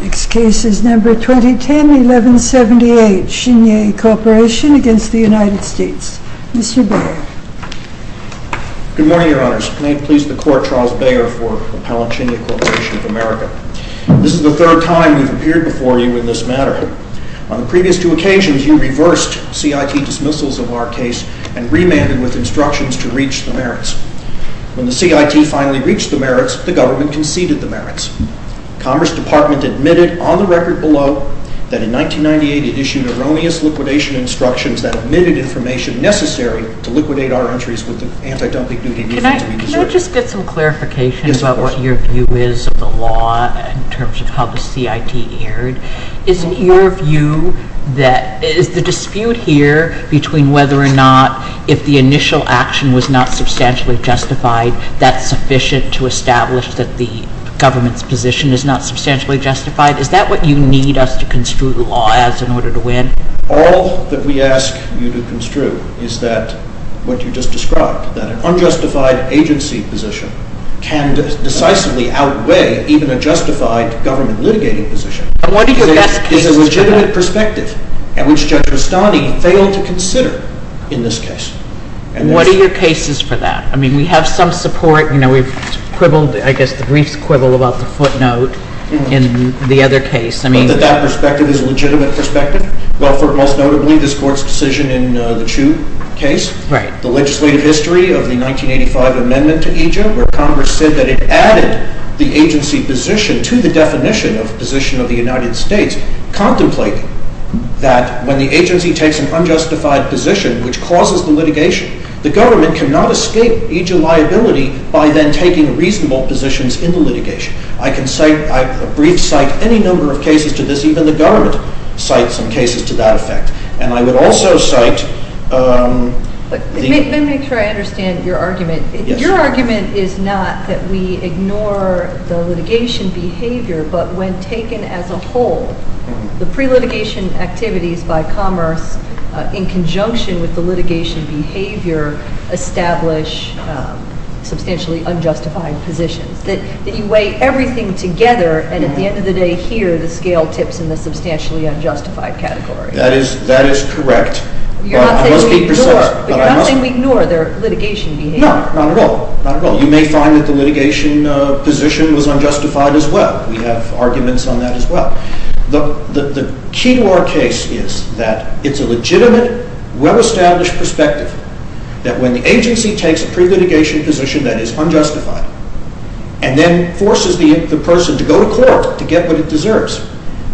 Next case is No. 2010-1178 SHINYEI CORP v. United States. Mr. Baer. Good morning, Your Honors. May it please the Court, Charles Baer for Appellant SHINYEI CORP of America. This is the third time we have appeared before you in this matter. On the previous two occasions, you reversed CIT dismissals of our case and remanded with instructions to reach the merits. When the CIT finally reached the merits, the government conceded the merits. The Commerce Department admitted on the record below that in 1998 it issued erroneous liquidation instructions that omitted information necessary to liquidate our entries with the anti-dumping duty needed to be deserved. Can I just get some clarification about what your view is of the law in terms of how the CIT erred? Is the dispute here between whether or not if the initial action was not substantially justified, that's sufficient to establish that the government's position is not substantially justified? Is that what you need us to construe the law as in order to win? All that we ask you to construe is that what you just described, that an unjustified agency position can decisively outweigh even a justified government litigating position. And what are your best cases for that? It is a legitimate perspective, and which Judge Rustani failed to consider in this case. And what are your cases for that? I mean, we have some support. You know, we've quibbled, I guess, the briefs quibble about the footnote in the other case. But that that perspective is a legitimate perspective? Well, for most notably, this Court's decision in the Chu case. Right. The legislative history of the 1985 amendment to EJA, where Congress said that it added the agency position to the definition of position of the United States, contemplating that when the agency takes an unjustified position, which causes the litigation, the government cannot escape EJA liability by then taking reasonable positions in the litigation. I can cite, a brief cite, any number of cases to this. Even the government cites some cases to that effect. And I would also cite the… Let me try to understand your argument. Your argument is not that we ignore the litigation behavior, but when taken as a whole, the pre-litigation activities by Commerce, in conjunction with the litigation behavior, establish substantially unjustified positions. That you weigh everything together, and at the end of the day, here are the scale tips in the substantially unjustified category. That is correct. You're not saying we ignore their litigation behavior? No, not at all. You may find that the litigation position was unjustified as well. We have arguments on that as well. The key to our case is that it's a legitimate, well-established perspective that when the agency takes a pre-litigation position that is unjustified, and then forces the person to go to court to get what it deserves,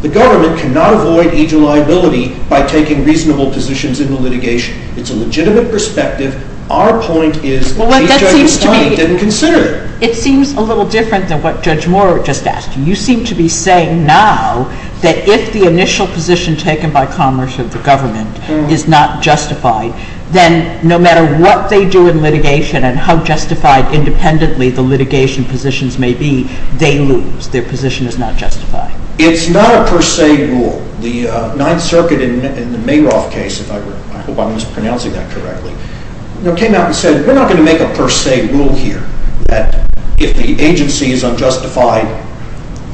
the government cannot avoid EJA liability by taking reasonable positions in the litigation. It's a legitimate perspective. Our point is that EJA's client didn't consider it. It seems a little different than what Judge Moore just asked you. You seem to be saying now that if the initial position taken by Commerce or the government is not justified, then no matter what they do in litigation and how justified independently the litigation positions may be, they lose. Their position is not justified. It's not a per se rule. The Ninth Circuit in the Mayroth case, if I'm pronouncing that correctly, came out and said we're not going to make a per se rule here that if the agency is unjustified,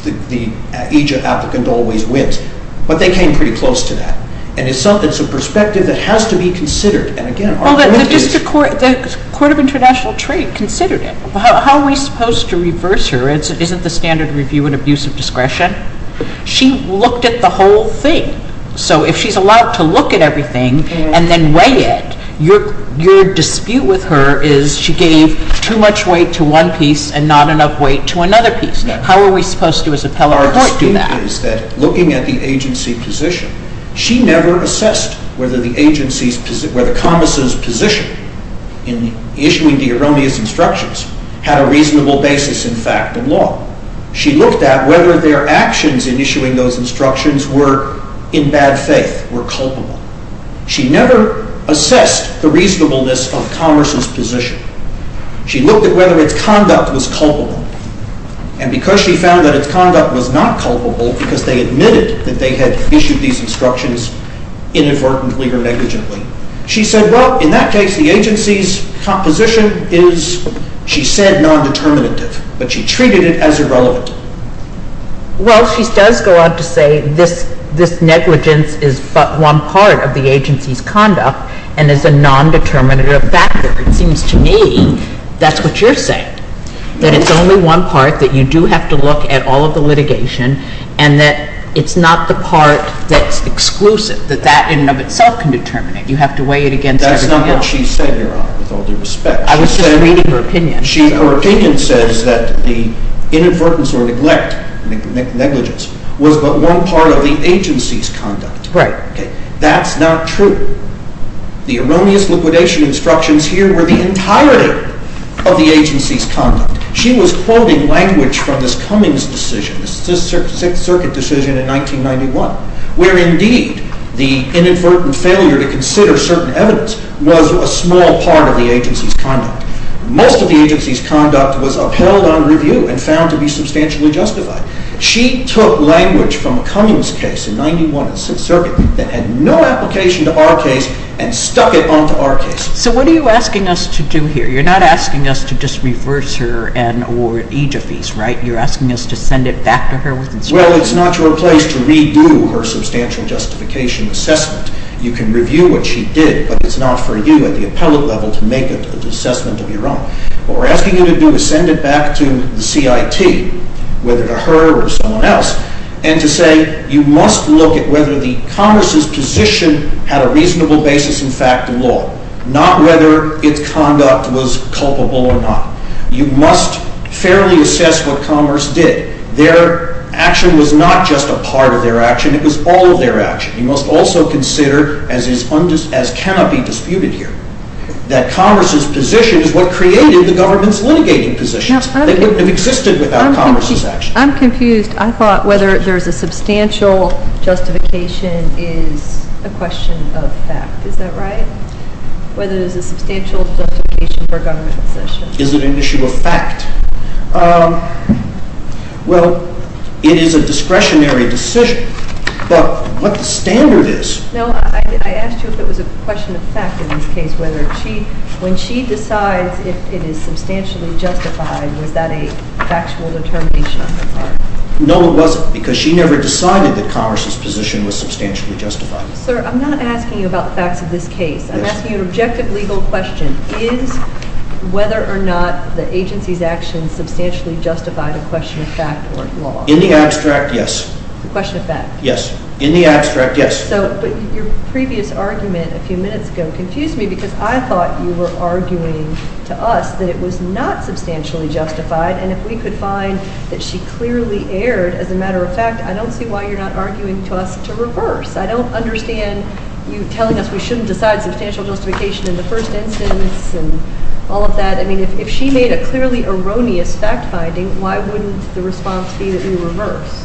the EJA applicant always wins. But they came pretty close to that. It's a perspective that has to be considered. The Court of International Trade considered it. How are we supposed to reverse her? Isn't the standard review an abuse of discretion? She looked at the whole thing. So if she's allowed to look at everything and then weigh it, your dispute with her is she gave too much weight to one piece and not enough weight to another piece. How are we supposed to as appellate report do that? Our dispute is that looking at the agency position, she never assessed whether Commerce's position in issuing the erroneous instructions had a reasonable basis in fact in law. She looked at whether their actions in issuing those instructions were in bad faith, were culpable. She never assessed the reasonableness of Commerce's position. She looked at whether its conduct was culpable. And because she found that its conduct was not culpable, because they admitted that they had issued these instructions inadvertently or negligently, she said, well, in that case, the agency's position is, she said, non-determinative. But she treated it as irrelevant. Well, she does go on to say this negligence is but one part of the agency's conduct and is a non-determinative factor. It seems to me that's what you're saying, that it's only one part that you do have to look at all of the litigation and that it's not the part that's exclusive, that that in and of itself can determine it. You have to weigh it against everything else. That's not what she said, Your Honor, with all due respect. I was just reading her opinion. Her opinion says that the inadvertence or neglect, negligence, was but one part of the agency's conduct. Right. That's not true. The erroneous liquidation instructions here were the entirety of the agency's conduct. She was quoting language from this Cummings decision, the Sixth Circuit decision in 1991, where indeed the inadvertent failure to consider certain evidence was a small part of the agency's conduct. Most of the agency's conduct was upheld on review and found to be substantially justified. She took language from a Cummings case in 1991 in the Sixth Circuit that had no application to our case and stuck it onto our case. So what are you asking us to do here? You're not asking us to just reverse her and award aegyphies, right? You're asking us to send it back to her with instructions? Well, it's not your place to redo her substantial justification assessment. You can review what she did, but it's not for you at the appellate level to make an assessment of your own. What we're asking you to do is send it back to the CIT, whether to her or someone else, and to say you must look at whether the Commerce's position had a reasonable basis in fact in law, not whether its conduct was culpable or not. You must fairly assess what Commerce did. Their action was not just a part of their action. It was all of their action. You must also consider, as cannot be disputed here, that Commerce's position is what created the government's litigating positions. They wouldn't have existed without Commerce's action. I'm confused. I thought whether there's a substantial justification is a question of fact. Is that right? Whether there's a substantial justification for a government decision. Is it an issue of fact? Well, it is a discretionary decision, but what the standard is. No, I asked you if it was a question of fact in this case. When she decides if it is substantially justified, was that a factual determination on her part? No, it wasn't, because she never decided that Commerce's position was substantially justified. Sir, I'm not asking you about facts of this case. I'm asking you an objective legal question. Is whether or not the agency's action substantially justified a question of fact or not? In the abstract, yes. A question of fact? Yes. In the abstract, yes. But your previous argument a few minutes ago confused me, because I thought you were arguing to us that it was not substantially justified, and if we could find that she clearly erred, as a matter of fact, I don't see why you're not arguing to us to reverse. I don't understand you telling us we shouldn't decide substantial justification in the first instance, and all of that. I mean, if she made a clearly erroneous fact-finding, why wouldn't the response be that we reverse?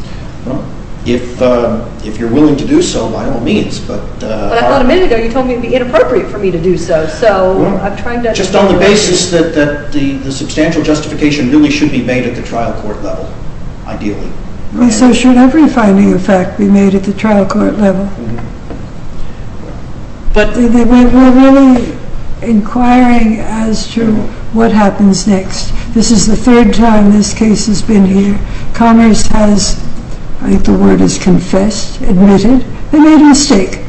Well, if you're willing to do so, by all means. But I thought a minute ago you told me it would be inappropriate for me to do so, so I'm trying to understand. Just on the basis that the substantial justification really should be made at the trial court level, ideally. And so should every finding of fact be made at the trial court level. But we're really inquiring as to what happens next. This is the third time this case has been here. Connors has, I think the word is confessed, admitted, they made a mistake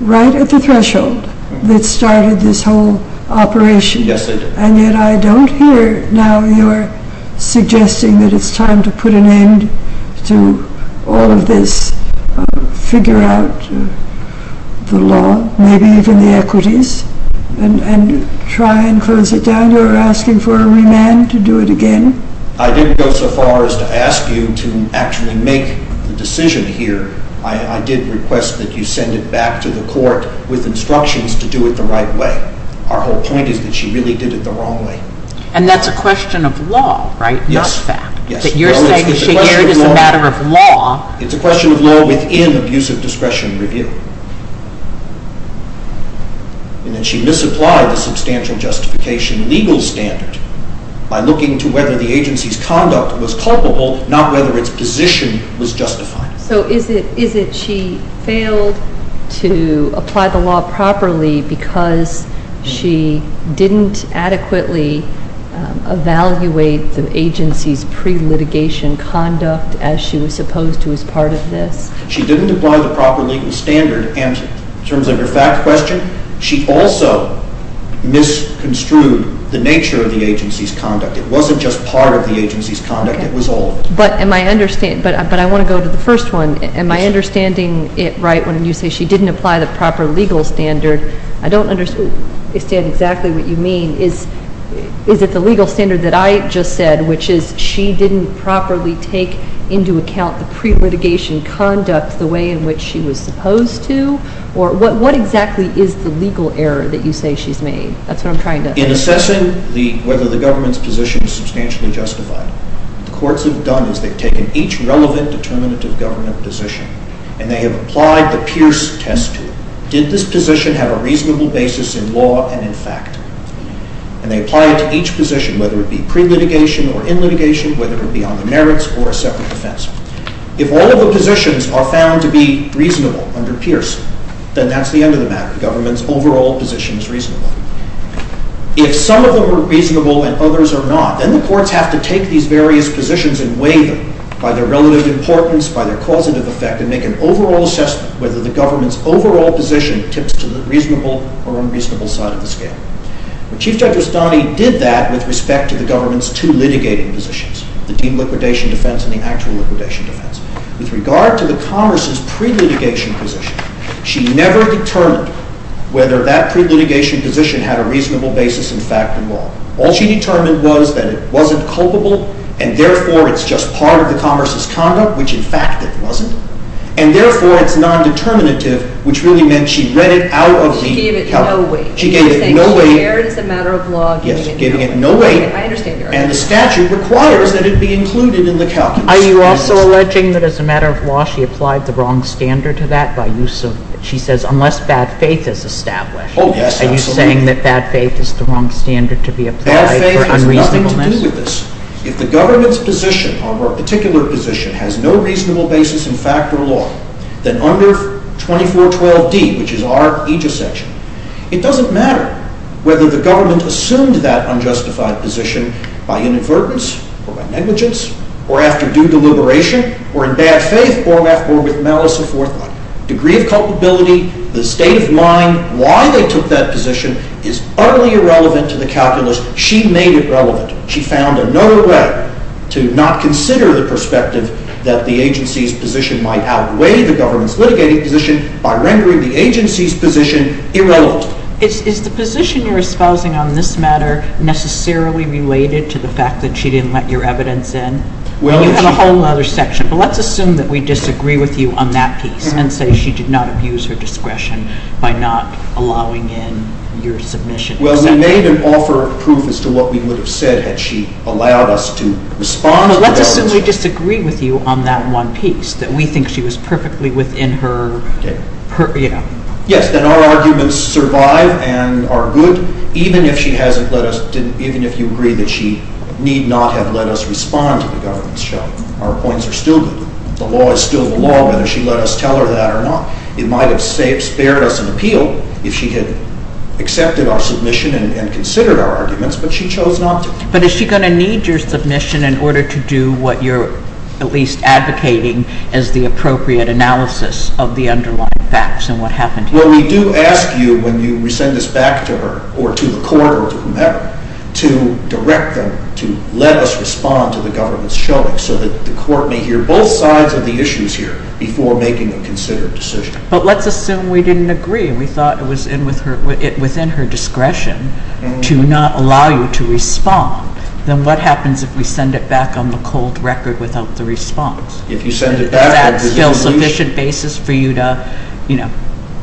right at the threshold that started this whole operation. Yes, they did. And yet I don't hear now your suggesting that it's time to put an end to all of this, figure out the law, maybe even the equities, and try and close it down. You're asking for a remand to do it again? I didn't go so far as to ask you to actually make the decision here. I did request that you send it back to the court with instructions to do it the right way. Our whole point is that she really did it the wrong way. And that's a question of law, right? Yes. You're saying that she did it as a matter of law. It's a question of law within abusive discretion review. And that she misapplied the substantial justification legal standard by looking to whether the agency's conduct was culpable, not whether its position was justified. So is it she failed to apply the law properly because she didn't adequately evaluate the agency's pre-litigation conduct as she was supposed to as part of this? She didn't apply the proper legal standard. And in terms of your fact question, she also misconstrued the nature of the agency's conduct. It wasn't just part of the agency's conduct. It was all of it. But I want to go to the first one. Am I understanding it right when you say she didn't apply the proper legal standard I don't understand exactly what you mean. Is it the legal standard that I just said, which is she didn't properly take into account the pre-litigation conduct, the way in which she was supposed to? Or what exactly is the legal error that you say she's made? That's what I'm trying to understand. In assessing whether the government's position was substantially justified, what the courts have done is they've taken each relevant determinative government position and they have applied the Pierce test to it. Did this position have a reasonable basis in law and in fact? And they apply it to each position, whether it be pre-litigation or in litigation, whether it be on the merits or a separate defense. If all of the positions are found to be reasonable under Pierce, then that's the end of the matter. The government's overall position is reasonable. If some of them are reasonable and others are not, then the courts have to take these various positions and weigh them by their relative importance, by their causative effect, and make an overall assessment whether the government's overall position tips to the reasonable or unreasonable side of the scale. Chief Judge Rustani did that with respect to the government's two litigating positions, the deemed liquidation defense and the actual liquidation defense. With regard to the Commerce's pre-litigation position, she never determined whether that pre-litigation position had a reasonable basis in fact in law. All she determined was that it wasn't culpable and therefore it's just part of the Commerce's conduct, which in fact it wasn't, and therefore it's non-determinative, which really meant she read it out of the calculus. She gave it no weight. She gave it no weight. You're saying she shared as a matter of law. Yes, giving it no weight. I understand your argument. And the statute requires that it be included in the calculus. Are you also alleging that as a matter of law she applied the wrong standard to that by use of, she says, unless bad faith is established? Oh, yes, absolutely. Are you saying that bad faith is the wrong standard to be applied for unreasonableness? If the government's position on her particular position has no reasonable basis in fact or law, then under 2412D, which is our aegis section, it doesn't matter whether the government assumed that unjustified position by inadvertence or by negligence or after due deliberation or in bad faith or with malice of forethought. Degree of culpability, the state of mind, why they took that position is utterly irrelevant to the calculus. She made it relevant. She found another way to not consider the perspective that the agency's position might outweigh the government's litigating position by rendering the agency's position irrelevant. Is the position you're espousing on this matter necessarily related to the fact that she didn't let your evidence in? You have a whole other section, but let's assume that we disagree with you on that piece and say she did not abuse her discretion by not allowing in your submission. Well, we made an offer of proof as to what we would have said had she allowed us to respond. Well, let's assume we disagree with you on that one piece, that we think she was perfectly within her, you know. Yes, then our arguments survive and are good even if she hasn't let us, even if you agree that she need not have let us respond to the government's challenge. Our points are still good. The law is still the law whether she let us tell her that or not. It might have spared us an appeal if she had accepted our submission and considered our arguments, but she chose not to. But is she going to need your submission in order to do what you're at least advocating as the appropriate analysis of the underlying facts and what happened here? Well, we do ask you when you send this back to her or to the court or to whomever to direct them to let us respond to the government's showing so that the court may hear both sides of the issues here before making a considered decision. But let's assume we didn't agree. We thought it was within her discretion to not allow you to respond. Then what happens if we send it back on the cold record without the response? If you send it back. Is that still sufficient basis for you to, you know,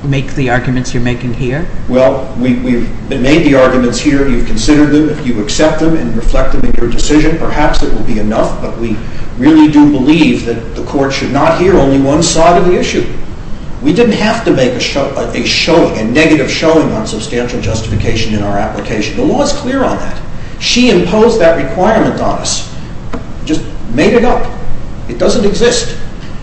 make the arguments you're making here? Well, we've made the arguments here. You've considered them. If you accept them and reflect them in your decision, perhaps it will be enough, but we really do believe that the court should not hear only one side of the issue. We didn't have to make a negative showing on substantial justification in our application. The law is clear on that. She imposed that requirement on us, just made it up. It doesn't exist.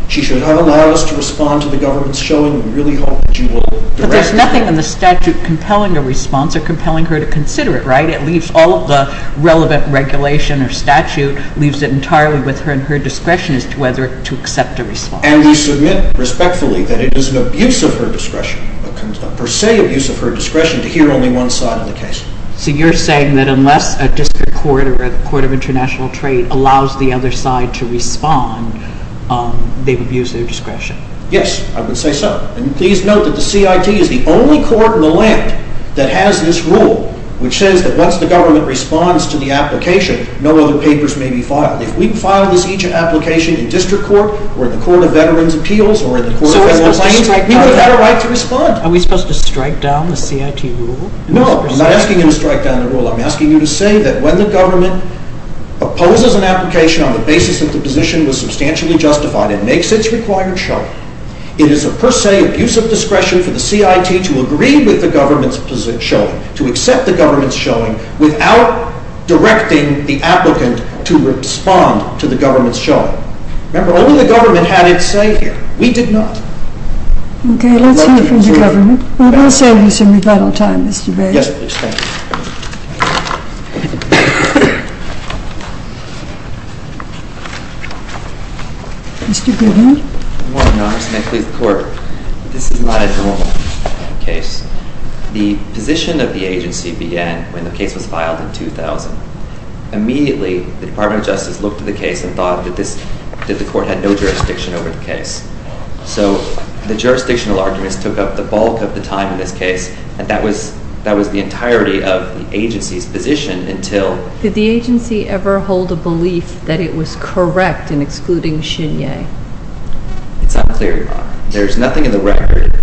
She should allow us to respond to the government's showing. We really hope that you will direct us. But there's nothing in the statute compelling a response or compelling her to consider it, right? It leaves all of the relevant regulation or statute leaves it entirely with her and her discretion as to whether to accept a response. And we submit respectfully that it is an abuse of her discretion, a per se abuse of her discretion to hear only one side of the case. So you're saying that unless a district court or a court of international trade allows the other side to respond, they've abused their discretion? Yes, I would say so. And please note that the CIT is the only court in the land that has this rule, which says that once the government responds to the application, no other papers may be filed. If we file each application in district court or the court of veterans' appeals or in the court of veterans' claims, we've got a right to respond. Are we supposed to strike down the CIT rule? No, I'm not asking you to strike down the rule. I'm asking you to say that when the government opposes an application on the basis that the position was substantially justified and makes its required showing, it is a per se abuse of discretion for the CIT to agree with the government's showing, to accept the government's showing, without directing the applicant to respond to the government's showing. Remember, only the government had its say here. We did not. Okay, let's hear from the government. Well, we'll save you some rebuttal time, Mr. Bates. Yes, please. Thank you. Mr. Goodman. Good morning, Your Honor, and may it please the Court. This is not a general case. The position of the agency began when the case was filed in 2000. Immediately, the Department of Justice looked at the case and thought that the Court had no jurisdiction over the case. So the jurisdictional arguments took up the bulk of the time in this case, and that was the entirety of the agency's position until... Did the agency ever hold a belief that it was correct in excluding Shin Yeh? It's unclear, Your Honor. There's nothing in the record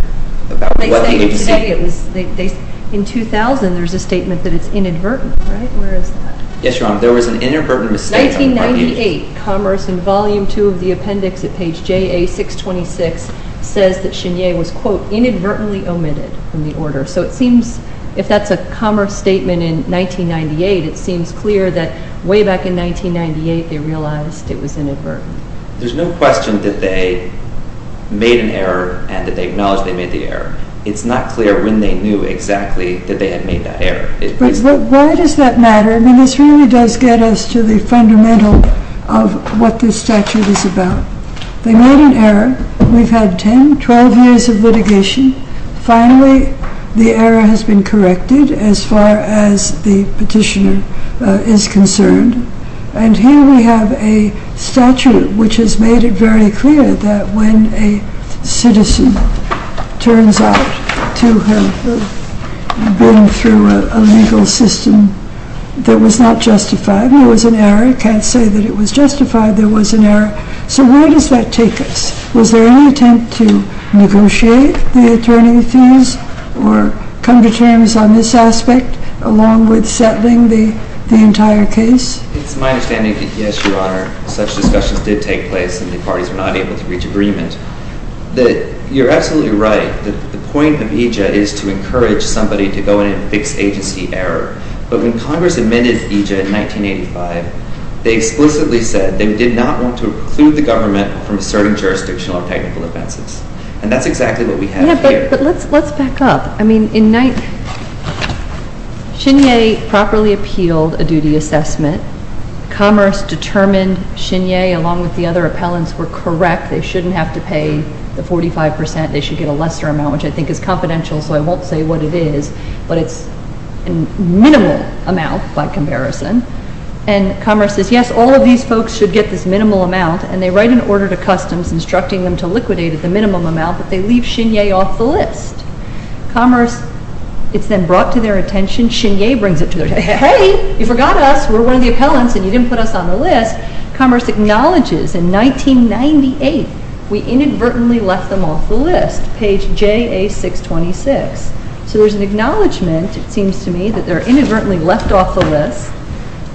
about what the agency... In 2000, there's a statement that it's inadvertent, right? Where is that? Yes, Your Honor, there was an inadvertent mistake on the part of the agency. 1998, Commerce in Volume 2 of the Appendix at page JA626 says that Shin Yeh was, quote, inadvertently omitted from the order. So it seems, if that's a Commerce statement in 1998, it seems clear that way back in 1998 they realized it was inadvertent. There's no question that they made an error and that they acknowledged they made the error. It's not clear when they knew exactly that they had made that error. Why does that matter? I mean, this really does get us to the fundamental of what this statute is about. They made an error. We've had 10, 12 years of litigation. Finally, the error has been corrected as far as the petitioner is concerned. And here we have a statute which has made it very clear that when a citizen turns out to have been through a legal system that was not justified, there was an error. You can't say that it was justified. There was an error. So where does that take us? Was there any attempt to negotiate the attorney fees or come to terms on this aspect along with settling the entire case? It's my understanding that, yes, Your Honor, such discussions did take place and the parties were not able to reach agreement. You're absolutely right that the point of EJA is to encourage somebody to go in and fix agency error. But when Congress admitted EJA in 1985, they explicitly said they did not want to exclude the government from asserting jurisdictional or technical offenses. And that's exactly what we have here. But let's back up. I mean, Shinye properly appealed a duty assessment. Commerce determined Shinye, along with the other appellants, were correct. They shouldn't have to pay the 45%. They should get a lesser amount, which I think is confidential, so I won't say what it is, but it's a minimal amount by comparison. And Commerce says, yes, all of these folks should get this minimal amount. And they write an order to Customs instructing them to liquidate at the minimum amount, but they leave Shinye off the list. Commerce is then brought to their attention. Shinye brings it to their attention. Hey, you forgot us. We're one of the appellants and you didn't put us on the list. Commerce acknowledges in 1998 we inadvertently left them off the list, page JA626. So there's an acknowledgement, it seems to me, that they're inadvertently left off the list,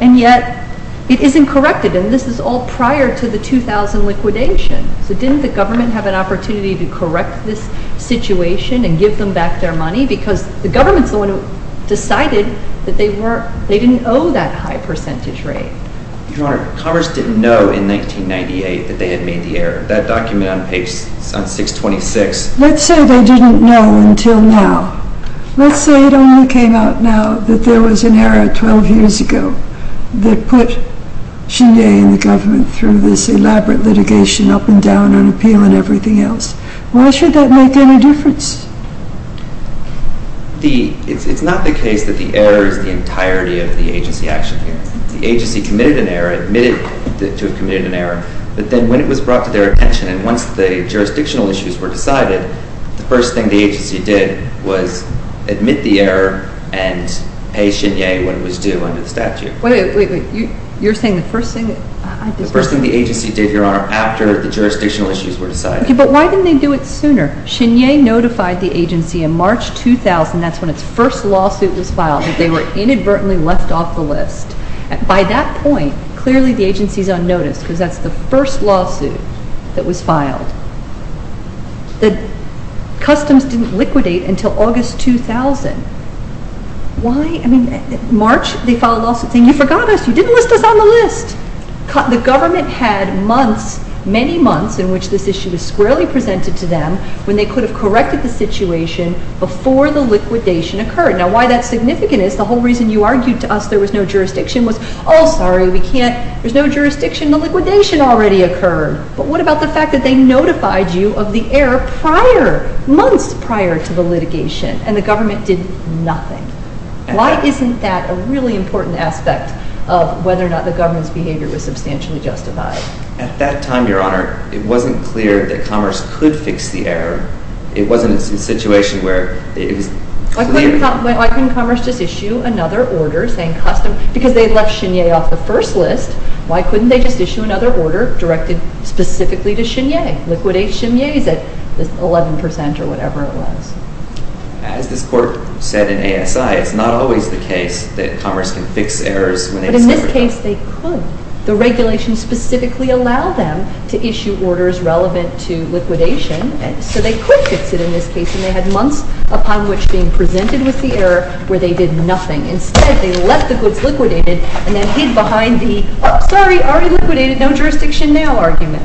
and yet it isn't corrected. And this is all prior to the 2000 liquidation. So didn't the government have an opportunity to correct this situation and give them back their money? Because the government's the one who decided that they didn't owe that high percentage rate. Your Honor, Commerce didn't know in 1998 that they had made the error. That document on page 626. Let's say they didn't know until now. Let's say it only came out now, that there was an error 12 years ago that put Shinye and the government through this elaborate litigation up and down on appeal and everything else. Why should that make any difference? It's not the case that the error is the entirety of the agency action. The agency committed an error, admitted to have committed an error, but then when it was brought to their attention, and once the jurisdictional issues were decided, the first thing the agency did was admit the error and pay Shinye what it was due under the statute. Wait, wait, wait. You're saying the first thing... The first thing the agency did, Your Honor, after the jurisdictional issues were decided. Okay, but why didn't they do it sooner? Shinye notified the agency in March 2000. That's when its first lawsuit was filed. They were inadvertently left off the list. By that point, clearly the agency is on notice because that's the first lawsuit that was filed. The customs didn't liquidate until August 2000. Why? In March, they filed a lawsuit saying, You forgot us. You didn't list us on the list. The government had months, many months, in which this issue was squarely presented to them when they could have corrected the situation before the liquidation occurred. Now, why that's significant is the whole reason you argued to us there was no jurisdiction was, Oh, sorry, we can't. There's no jurisdiction. The liquidation already occurred. But what about the fact that they notified you of the error prior, months prior to the litigation, and the government did nothing? Why isn't that a really important aspect of whether or not the government's behavior was substantially justified? At that time, Your Honor, it wasn't clear that Commerce could fix the error. It wasn't a situation where it was... Why couldn't Commerce just issue another order saying, Customs, because they left Shinye off the first list. Why couldn't they just issue another order directed specifically to Shinye? Liquidate Shinye's at 11% or whatever it was. As this Court said in ASI, it's not always the case that Commerce can fix errors... But in this case, they could. The regulation specifically allowed them to issue orders relevant to liquidation, so they could fix it in this case, and they had months upon which being presented with the error where they did nothing. Instead, they left the goods liquidated and then hid behind the, sorry, already liquidated, no jurisdiction now argument.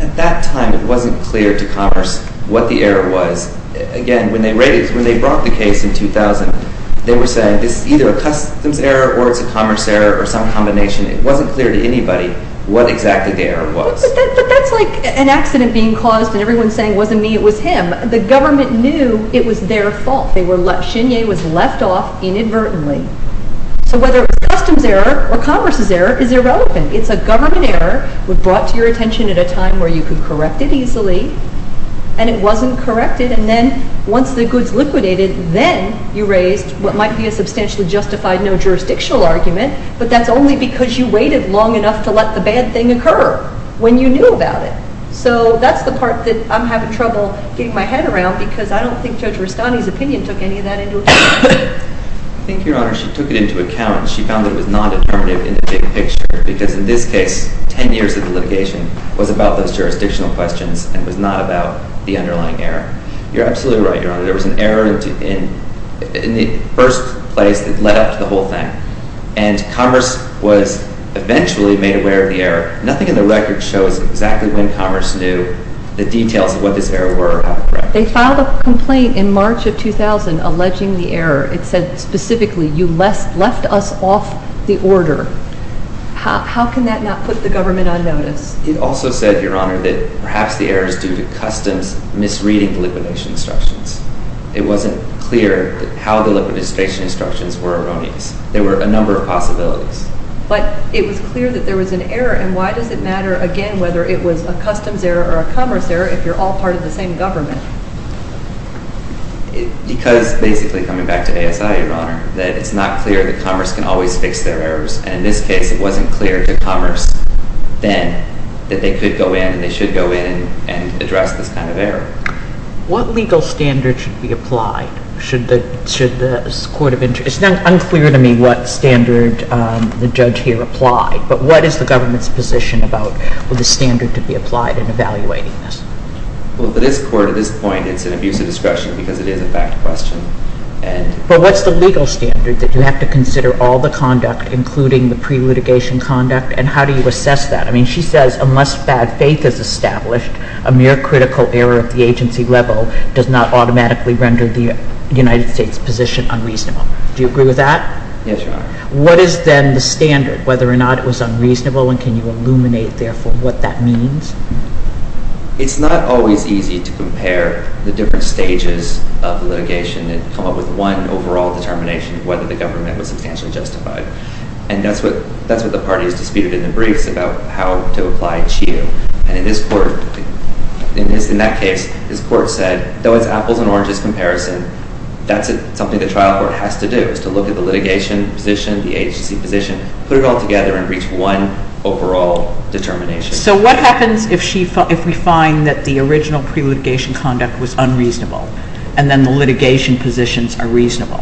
At that time, it wasn't clear to Commerce what the error was. Again, when they brought the case in 2000, they were saying, this is either a Customs error or it's a Commerce error or some combination. It wasn't clear to anybody what exactly the error was. But that's like an accident being caused and everyone saying, wasn't me, it was him. The government knew it was their fault. Shinye was left off inadvertently. So whether it's a Customs error or Commerce's error, it's irrelevant. It's a government error, it was brought to your attention at a time where you could correct it easily, and it wasn't corrected, and then once the goods liquidated, then you raised what might be a substantially justified no jurisdictional argument, but that's only because you waited long enough to let the bad thing occur when you knew about it. So that's the part that I'm having trouble getting my head around because I don't think Judge Rustani's opinion took any of that into account. I think, Your Honor, she took it into account. She found it was non-determinative in the big picture because in this case, 10 years of litigation was about those jurisdictional questions and was not about the underlying error. You're absolutely right, Your Honor. There was an error in the first place that led up to the whole thing, and Commerce was eventually made aware of the error. Nothing in the record shows exactly when Commerce knew the details of what this error were or how to correct it. They filed a complaint in March of 2000 alleging the error. It said specifically, you left us off the order. How can that not put the government on notice? It also said, Your Honor, that perhaps the error is due to Customs misreading the liquidation instructions. It wasn't clear how the liquidation instructions were erroneous. There were a number of possibilities. But it was clear that there was an error, and why does it matter again whether it was a Customs error or a Commerce error if you're all part of the same government? Because, basically, coming back to ASI, Your Honor, that it's not clear that Commerce can always fix their errors, and in this case it wasn't clear to Commerce then that they could go in and they should go in and address this kind of error. What legal standard should be applied? Should the Court of Interest... It's unclear to me what standard the judge here applied, but what is the government's position about the standard to be applied in evaluating this? Well, for this Court, at this point, it's an abuse of discretion because it is a fact question. But what's the legal standard, that you have to consider all the conduct, including the pre-litigation conduct, and how do you assess that? I mean, she says unless bad faith is established, a mere critical error at the agency level does not automatically render the United States position unreasonable. Do you agree with that? Yes, Your Honor. What is then the standard, whether or not it was unreasonable, and can you illuminate, therefore, what that means? It's not always easy to compare the different stages of the litigation and come up with one overall determination of whether the government was substantially justified. And that's what the party has disputed in the briefs about how to apply CHEO. And in that case, this Court said, though it's apples and oranges comparison, that's something the trial court has to do, is to look at the litigation position, the agency position, put it all together and reach one overall determination. So what happens if we find that the original pre-litigation conduct was unreasonable and then the litigation positions are reasonable?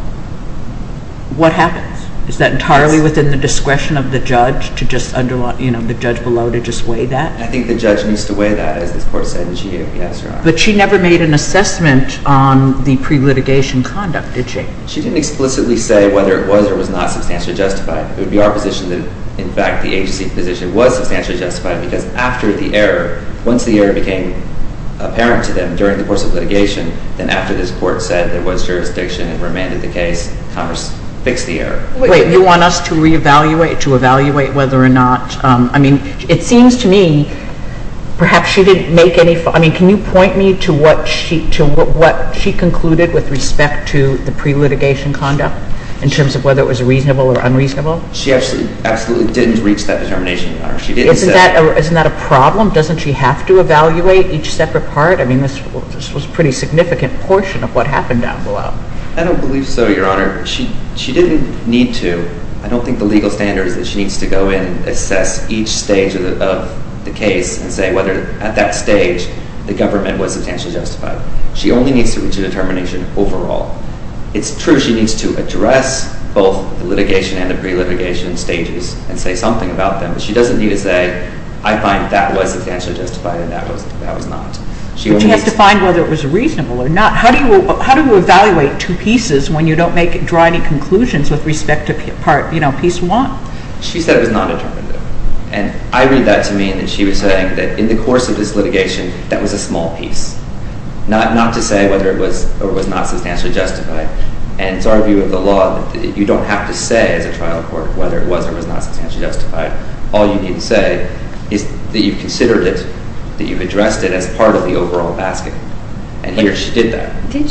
What happens? Is that entirely within the discretion of the judge to just underline, you know, the judge below, to just weigh that? I think the judge needs to weigh that, as this Court said in CHEO, yes, Your Honor. But she never made an assessment on the pre-litigation conduct, did she? She didn't explicitly say whether it was or was not substantially justified. It would be our position that, in fact, the agency position was substantially justified because after the error, once the error became apparent to them during the course of litigation, then after this Court said there was jurisdiction and remanded the case, Congress fixed the error. Wait, you want us to reevaluate, to evaluate whether or not... I mean, it seems to me, perhaps she didn't make any... I mean, can you point me to what she concluded with respect to the pre-litigation conduct She actually absolutely didn't reach that determination, Your Honor. She didn't say... Isn't that a problem? Doesn't she have to evaluate each separate part? I mean, this was a pretty significant portion of what happened down below. I don't believe so, Your Honor. She didn't need to. I don't think the legal standard is that she needs to go in and assess each stage of the case and say whether, at that stage, the government was substantially justified. She only needs to reach a determination overall. It's true she needs to address both the litigation and the pre-litigation stages and say something about them, but she doesn't need to say, I find that was substantially justified and that was not. But she has to find whether it was reasonable or not. How do you evaluate two pieces when you don't draw any conclusions with respect to piece one? She said it was non-determinative. And I read that to mean that she was saying that in the course of this litigation, that was a small piece. Not to say whether it was or was not substantially justified. And it's our view of the law that you don't have to say as a trial court whether it was or was not substantially justified. All you need to say is that you've considered it, that you've addressed it as part of the overall basket. And here she did that. Did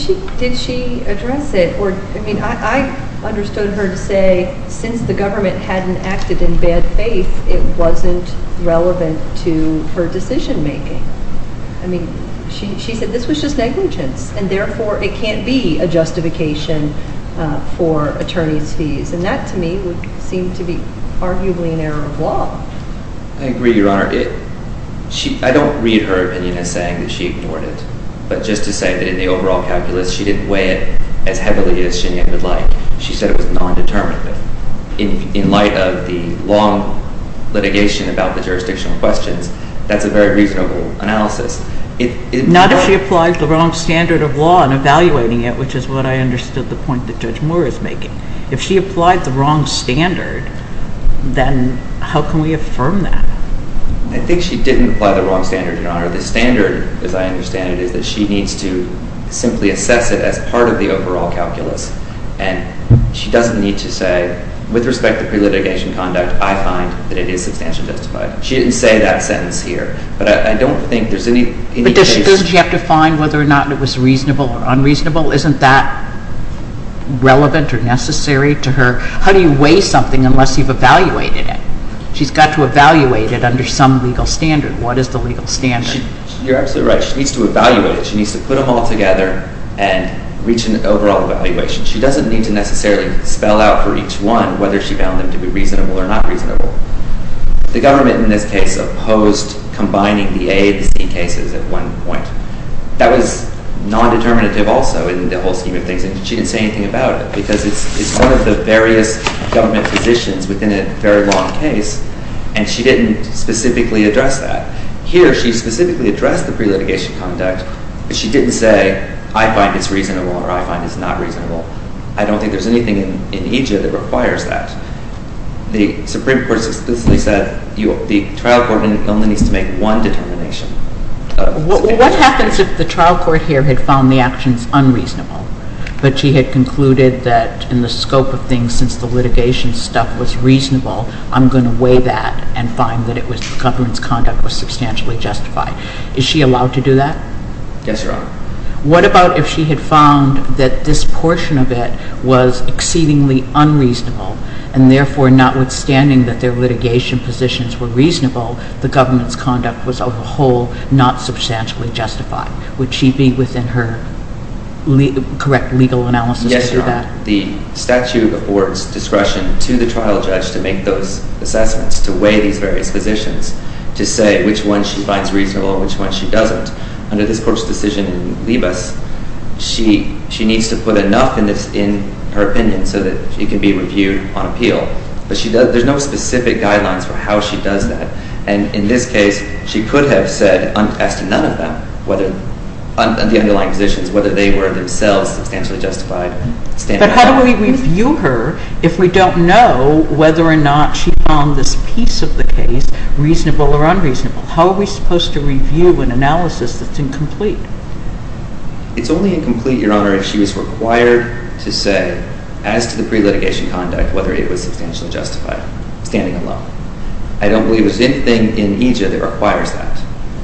she address it? I mean, I understood her to say since the government hadn't acted in bad faith, it wasn't relevant to her decision making. I mean, she said this was just negligence and therefore it can't be a justification for attorney's fees. And that, to me, would seem to be arguably an error of law. I agree, Your Honor. I don't read her opinion as saying that she ignored it. But just to say that in the overall calculus she didn't weigh it as heavily as Shinya would like. She said it was non-determinative. In light of the long litigation about the jurisdictional questions, that's a very reasonable analysis. Not if she applied the wrong standard of law in evaluating it, which is what I understood the point that Judge Moore is making. If she applied the wrong standard, then how can we affirm that? I think she didn't apply the wrong standard, Your Honor. The standard, as I understand it, is that she needs to simply assess it as part of the overall calculus. And she doesn't need to say, with respect to pre-litigation conduct, I find that it is substantially justified. She didn't say that sentence here. But I don't think there's any... But doesn't she have to find whether or not it was reasonable or unreasonable? Isn't that relevant or necessary to her? How do you weigh something unless you've evaluated it? She's got to evaluate it under some legal standard. What is the legal standard? You're absolutely right. She needs to evaluate it. She needs to put them all together and reach an overall evaluation. She doesn't need to necessarily spell out for each one whether she found them to be reasonable or not reasonable. The government in this case opposed combining the A and the C cases at one point. That was non-determinative also. In the whole scheme of things, she didn't say anything about it because it's one of the various government positions within a very long case, and she didn't specifically address that. Here, she specifically addressed the pre-litigation conduct, but she didn't say, I find it's reasonable or I find it's not reasonable. I don't think there's anything in Egypt that requires that. The Supreme Court specifically said the trial court only needs to make one determination. What happens if the trial court here had found the actions unreasonable, but she had concluded that in the scope of things, since the litigation stuff was reasonable, I'm going to weigh that and find that the government's conduct was substantially justified? Is she allowed to do that? Yes, Your Honor. What about if she had found that this portion of it was exceedingly unreasonable, and therefore notwithstanding that their litigation positions were reasonable, the government's conduct was, on the whole, not substantially justified? Would she be within her correct legal analysis to do that? Yes, Your Honor. The statute affords discretion to the trial judge to make those assessments, to weigh these various positions, to say which one she finds reasonable and which one she doesn't. Under this court's decision in Libas, she needs to put enough in her opinion so that it can be reviewed on appeal. But there's no specific guidelines for how she does that. And in this case, she could have said, as to none of them, the underlying positions, whether they were themselves substantially justified, standing alone. But how do we review her if we don't know whether or not she found this piece of the case reasonable or unreasonable? How are we supposed to review an analysis that's incomplete? It's only incomplete, Your Honor, if she was required to say, as to the pre-litigation conduct, whether it was substantially justified, standing alone. I don't believe there's anything in EJA that requires that.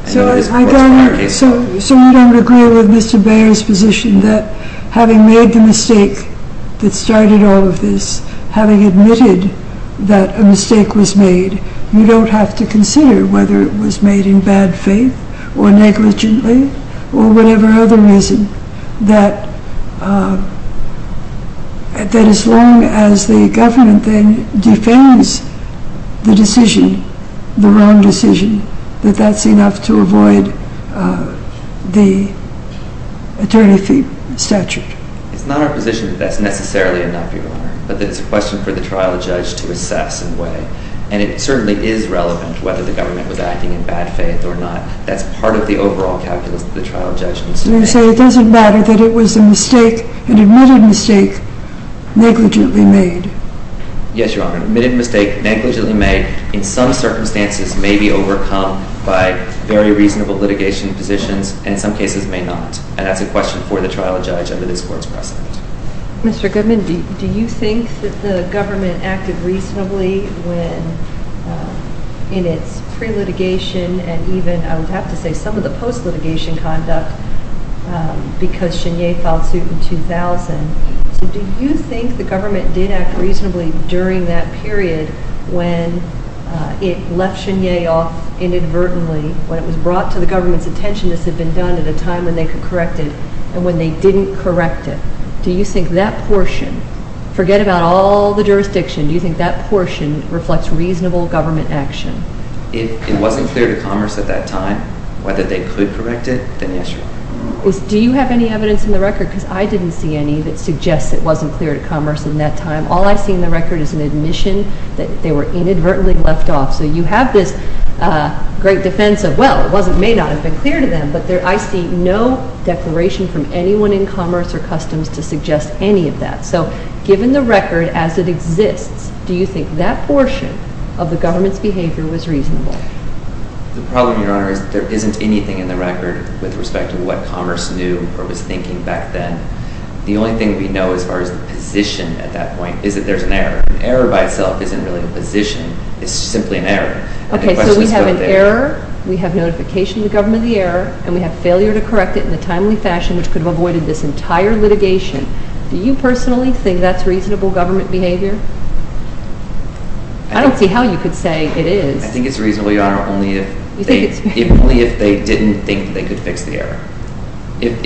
So you don't agree with Mr. Baer's position that having made the mistake that started all of this, having admitted that a mistake was made, you don't have to consider whether it was made in bad faith or negligently or whatever other reason, that as long as the government then defends the decision, the wrong decision, that that's enough to avoid the attorney fee statute? It's not our position that that's necessarily enough, Your Honor, but that it's a question for the trial judge to assess and weigh. And it certainly is relevant whether the government was acting in bad faith or not. That's part of the overall calculus that the trial judge needs to make. So you say it doesn't matter that it was a mistake, an admitted mistake, negligently made? Yes, Your Honor. An admitted mistake, negligently made, in some circumstances may be overcome by very reasonable litigation positions and in some cases may not. And that's a question for the trial judge under this Court's precedent. Mr. Goodman, do you think that the government acted reasonably when in its pre-litigation and even, I would have to say, some of the post-litigation conduct because Chenier filed suit in 2000? So do you think the government did act reasonably during that period when it left Chenier off inadvertently, when it was brought to the government's attention this had been done at a time when they could correct it and when they didn't correct it? Do you think that portion, forget about all the jurisdiction, do you think that portion reflects reasonable government action? If it wasn't clear to Commerce at that time, whether they could correct it, then yes, Your Honor. Do you have any evidence in the record because I didn't see any that suggests it wasn't clear to Commerce in that time. All I see in the record is an admission that they were inadvertently left off. So you have this great defense of well, it may not have been clear to them, but I see no declaration from anyone in Commerce or Customs to suggest any of that. So given the record as it exists, do you think that portion of the government's behavior was reasonable? The problem, Your Honor, is that there isn't anything in the record with respect to what Commerce knew or was thinking back then. The only thing we know as far as the position at that point is that there's an error. An error by itself isn't really a position. It's simply an error. Okay, so we have an error, we have notification of the government of the error, and we have failure to correct it in a timely fashion which could have avoided this entire litigation. Do you personally think that's reasonable government behavior? I don't see how you could say it is. I think it's reasonable, Your Honor, only if they didn't think they could fix the error. And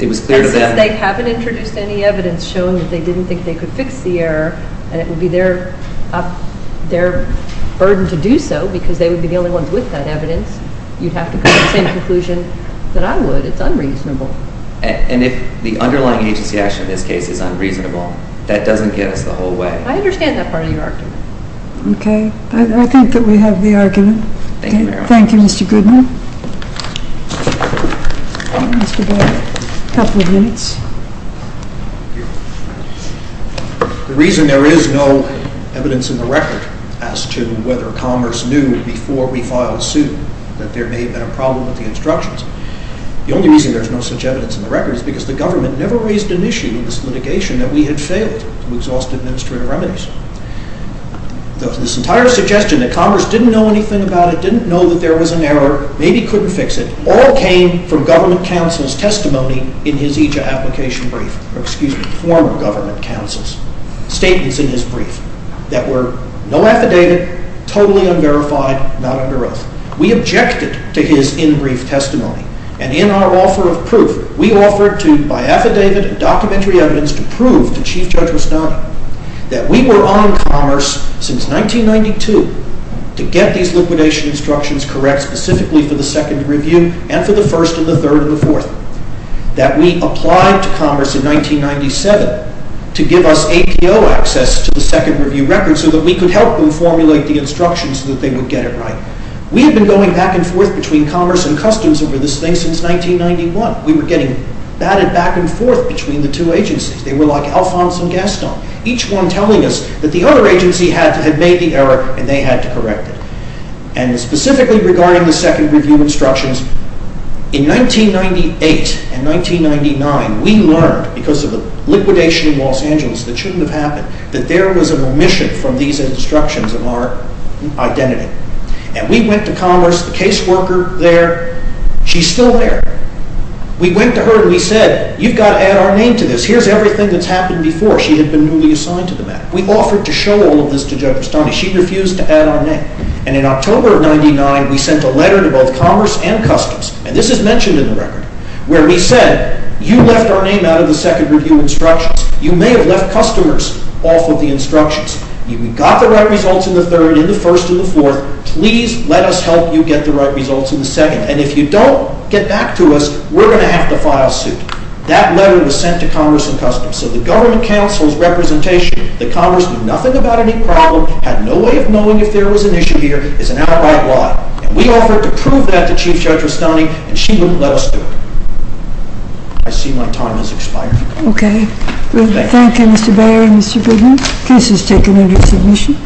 since they haven't introduced any evidence showing that they didn't think they could fix the error and it would be their burden to do so because they would be the only ones with that evidence, you'd have to come to the same conclusion that I would. It's unreasonable. And if the underlying agency action in this case is unreasonable, that doesn't get us the whole way. I understand that part of your argument. Okay. I think that we have the argument. Thank you, Mr. Goodman. Mr. Boyle, a couple of minutes. The reason there is no evidence in the record as to whether Commerce knew before we filed a suit that there may have been a problem with the instructions, the only reason there's no such evidence in the record is because the government never raised an issue in this litigation that we had failed to exhaust administrative remedies. This entire suggestion that Commerce didn't know anything about it, didn't know that there was an error maybe couldn't fix it, all came from government counsel's testimony in his EJA application brief, or excuse me, former government counsel's statements in his brief that were no affidavit, totally unverified, not under oath. We objected to his in-brief testimony and in our offer of proof, we offered to buy affidavit and documentary evidence to prove the Chief Judge was not, that we were on Commerce since 1992 to get these liquidation instructions correct specifically for the second review and for the first and the third and the fourth. That we applied to Commerce in 1997 to give us APO access to the second review record so that we could help them formulate the instructions so that they would get it right. We had been going back and forth between Commerce and Customs over this thing since 1991. We were getting batted back and forth between the two agencies. They were like Alphonse and Gaston, each one telling us that the other agency had made the error and they had to correct it. And specifically regarding the second review instructions, in 1998 and 1999, we learned, because of the liquidation in Los Angeles that shouldn't have happened, that there was a remission from these instructions of our identity. And we went to Commerce, the case worker there, she's still there. We went to her and we said, you've got to add our name to this. Here's everything that's happened before. She had been newly assigned to the matter. We offered to show all of this to Judge Vestani. She refused to add our name. And in October of 1999, we sent a letter to both Commerce and Customs, and this is mentioned in the record, where we said, you left our name out of the second review instructions. You may have left customers off of the instructions. You got the right results in the third, in the first, in the fourth. Please let us help you get the right results in the second. And if you don't get back to us, we're going to have to file suit. That letter was sent to Commerce and Customs. So the government council's representation, the Commerce knew nothing about any problem, had no way of knowing if there was an issue here. It's an outright lie. And we offered to prove that to Chief Judge Vestani, and she wouldn't let us do it. I see my time has expired. Okay. Thank you, Mr. Beyer and Mr. Goodman. Case is taken under submission.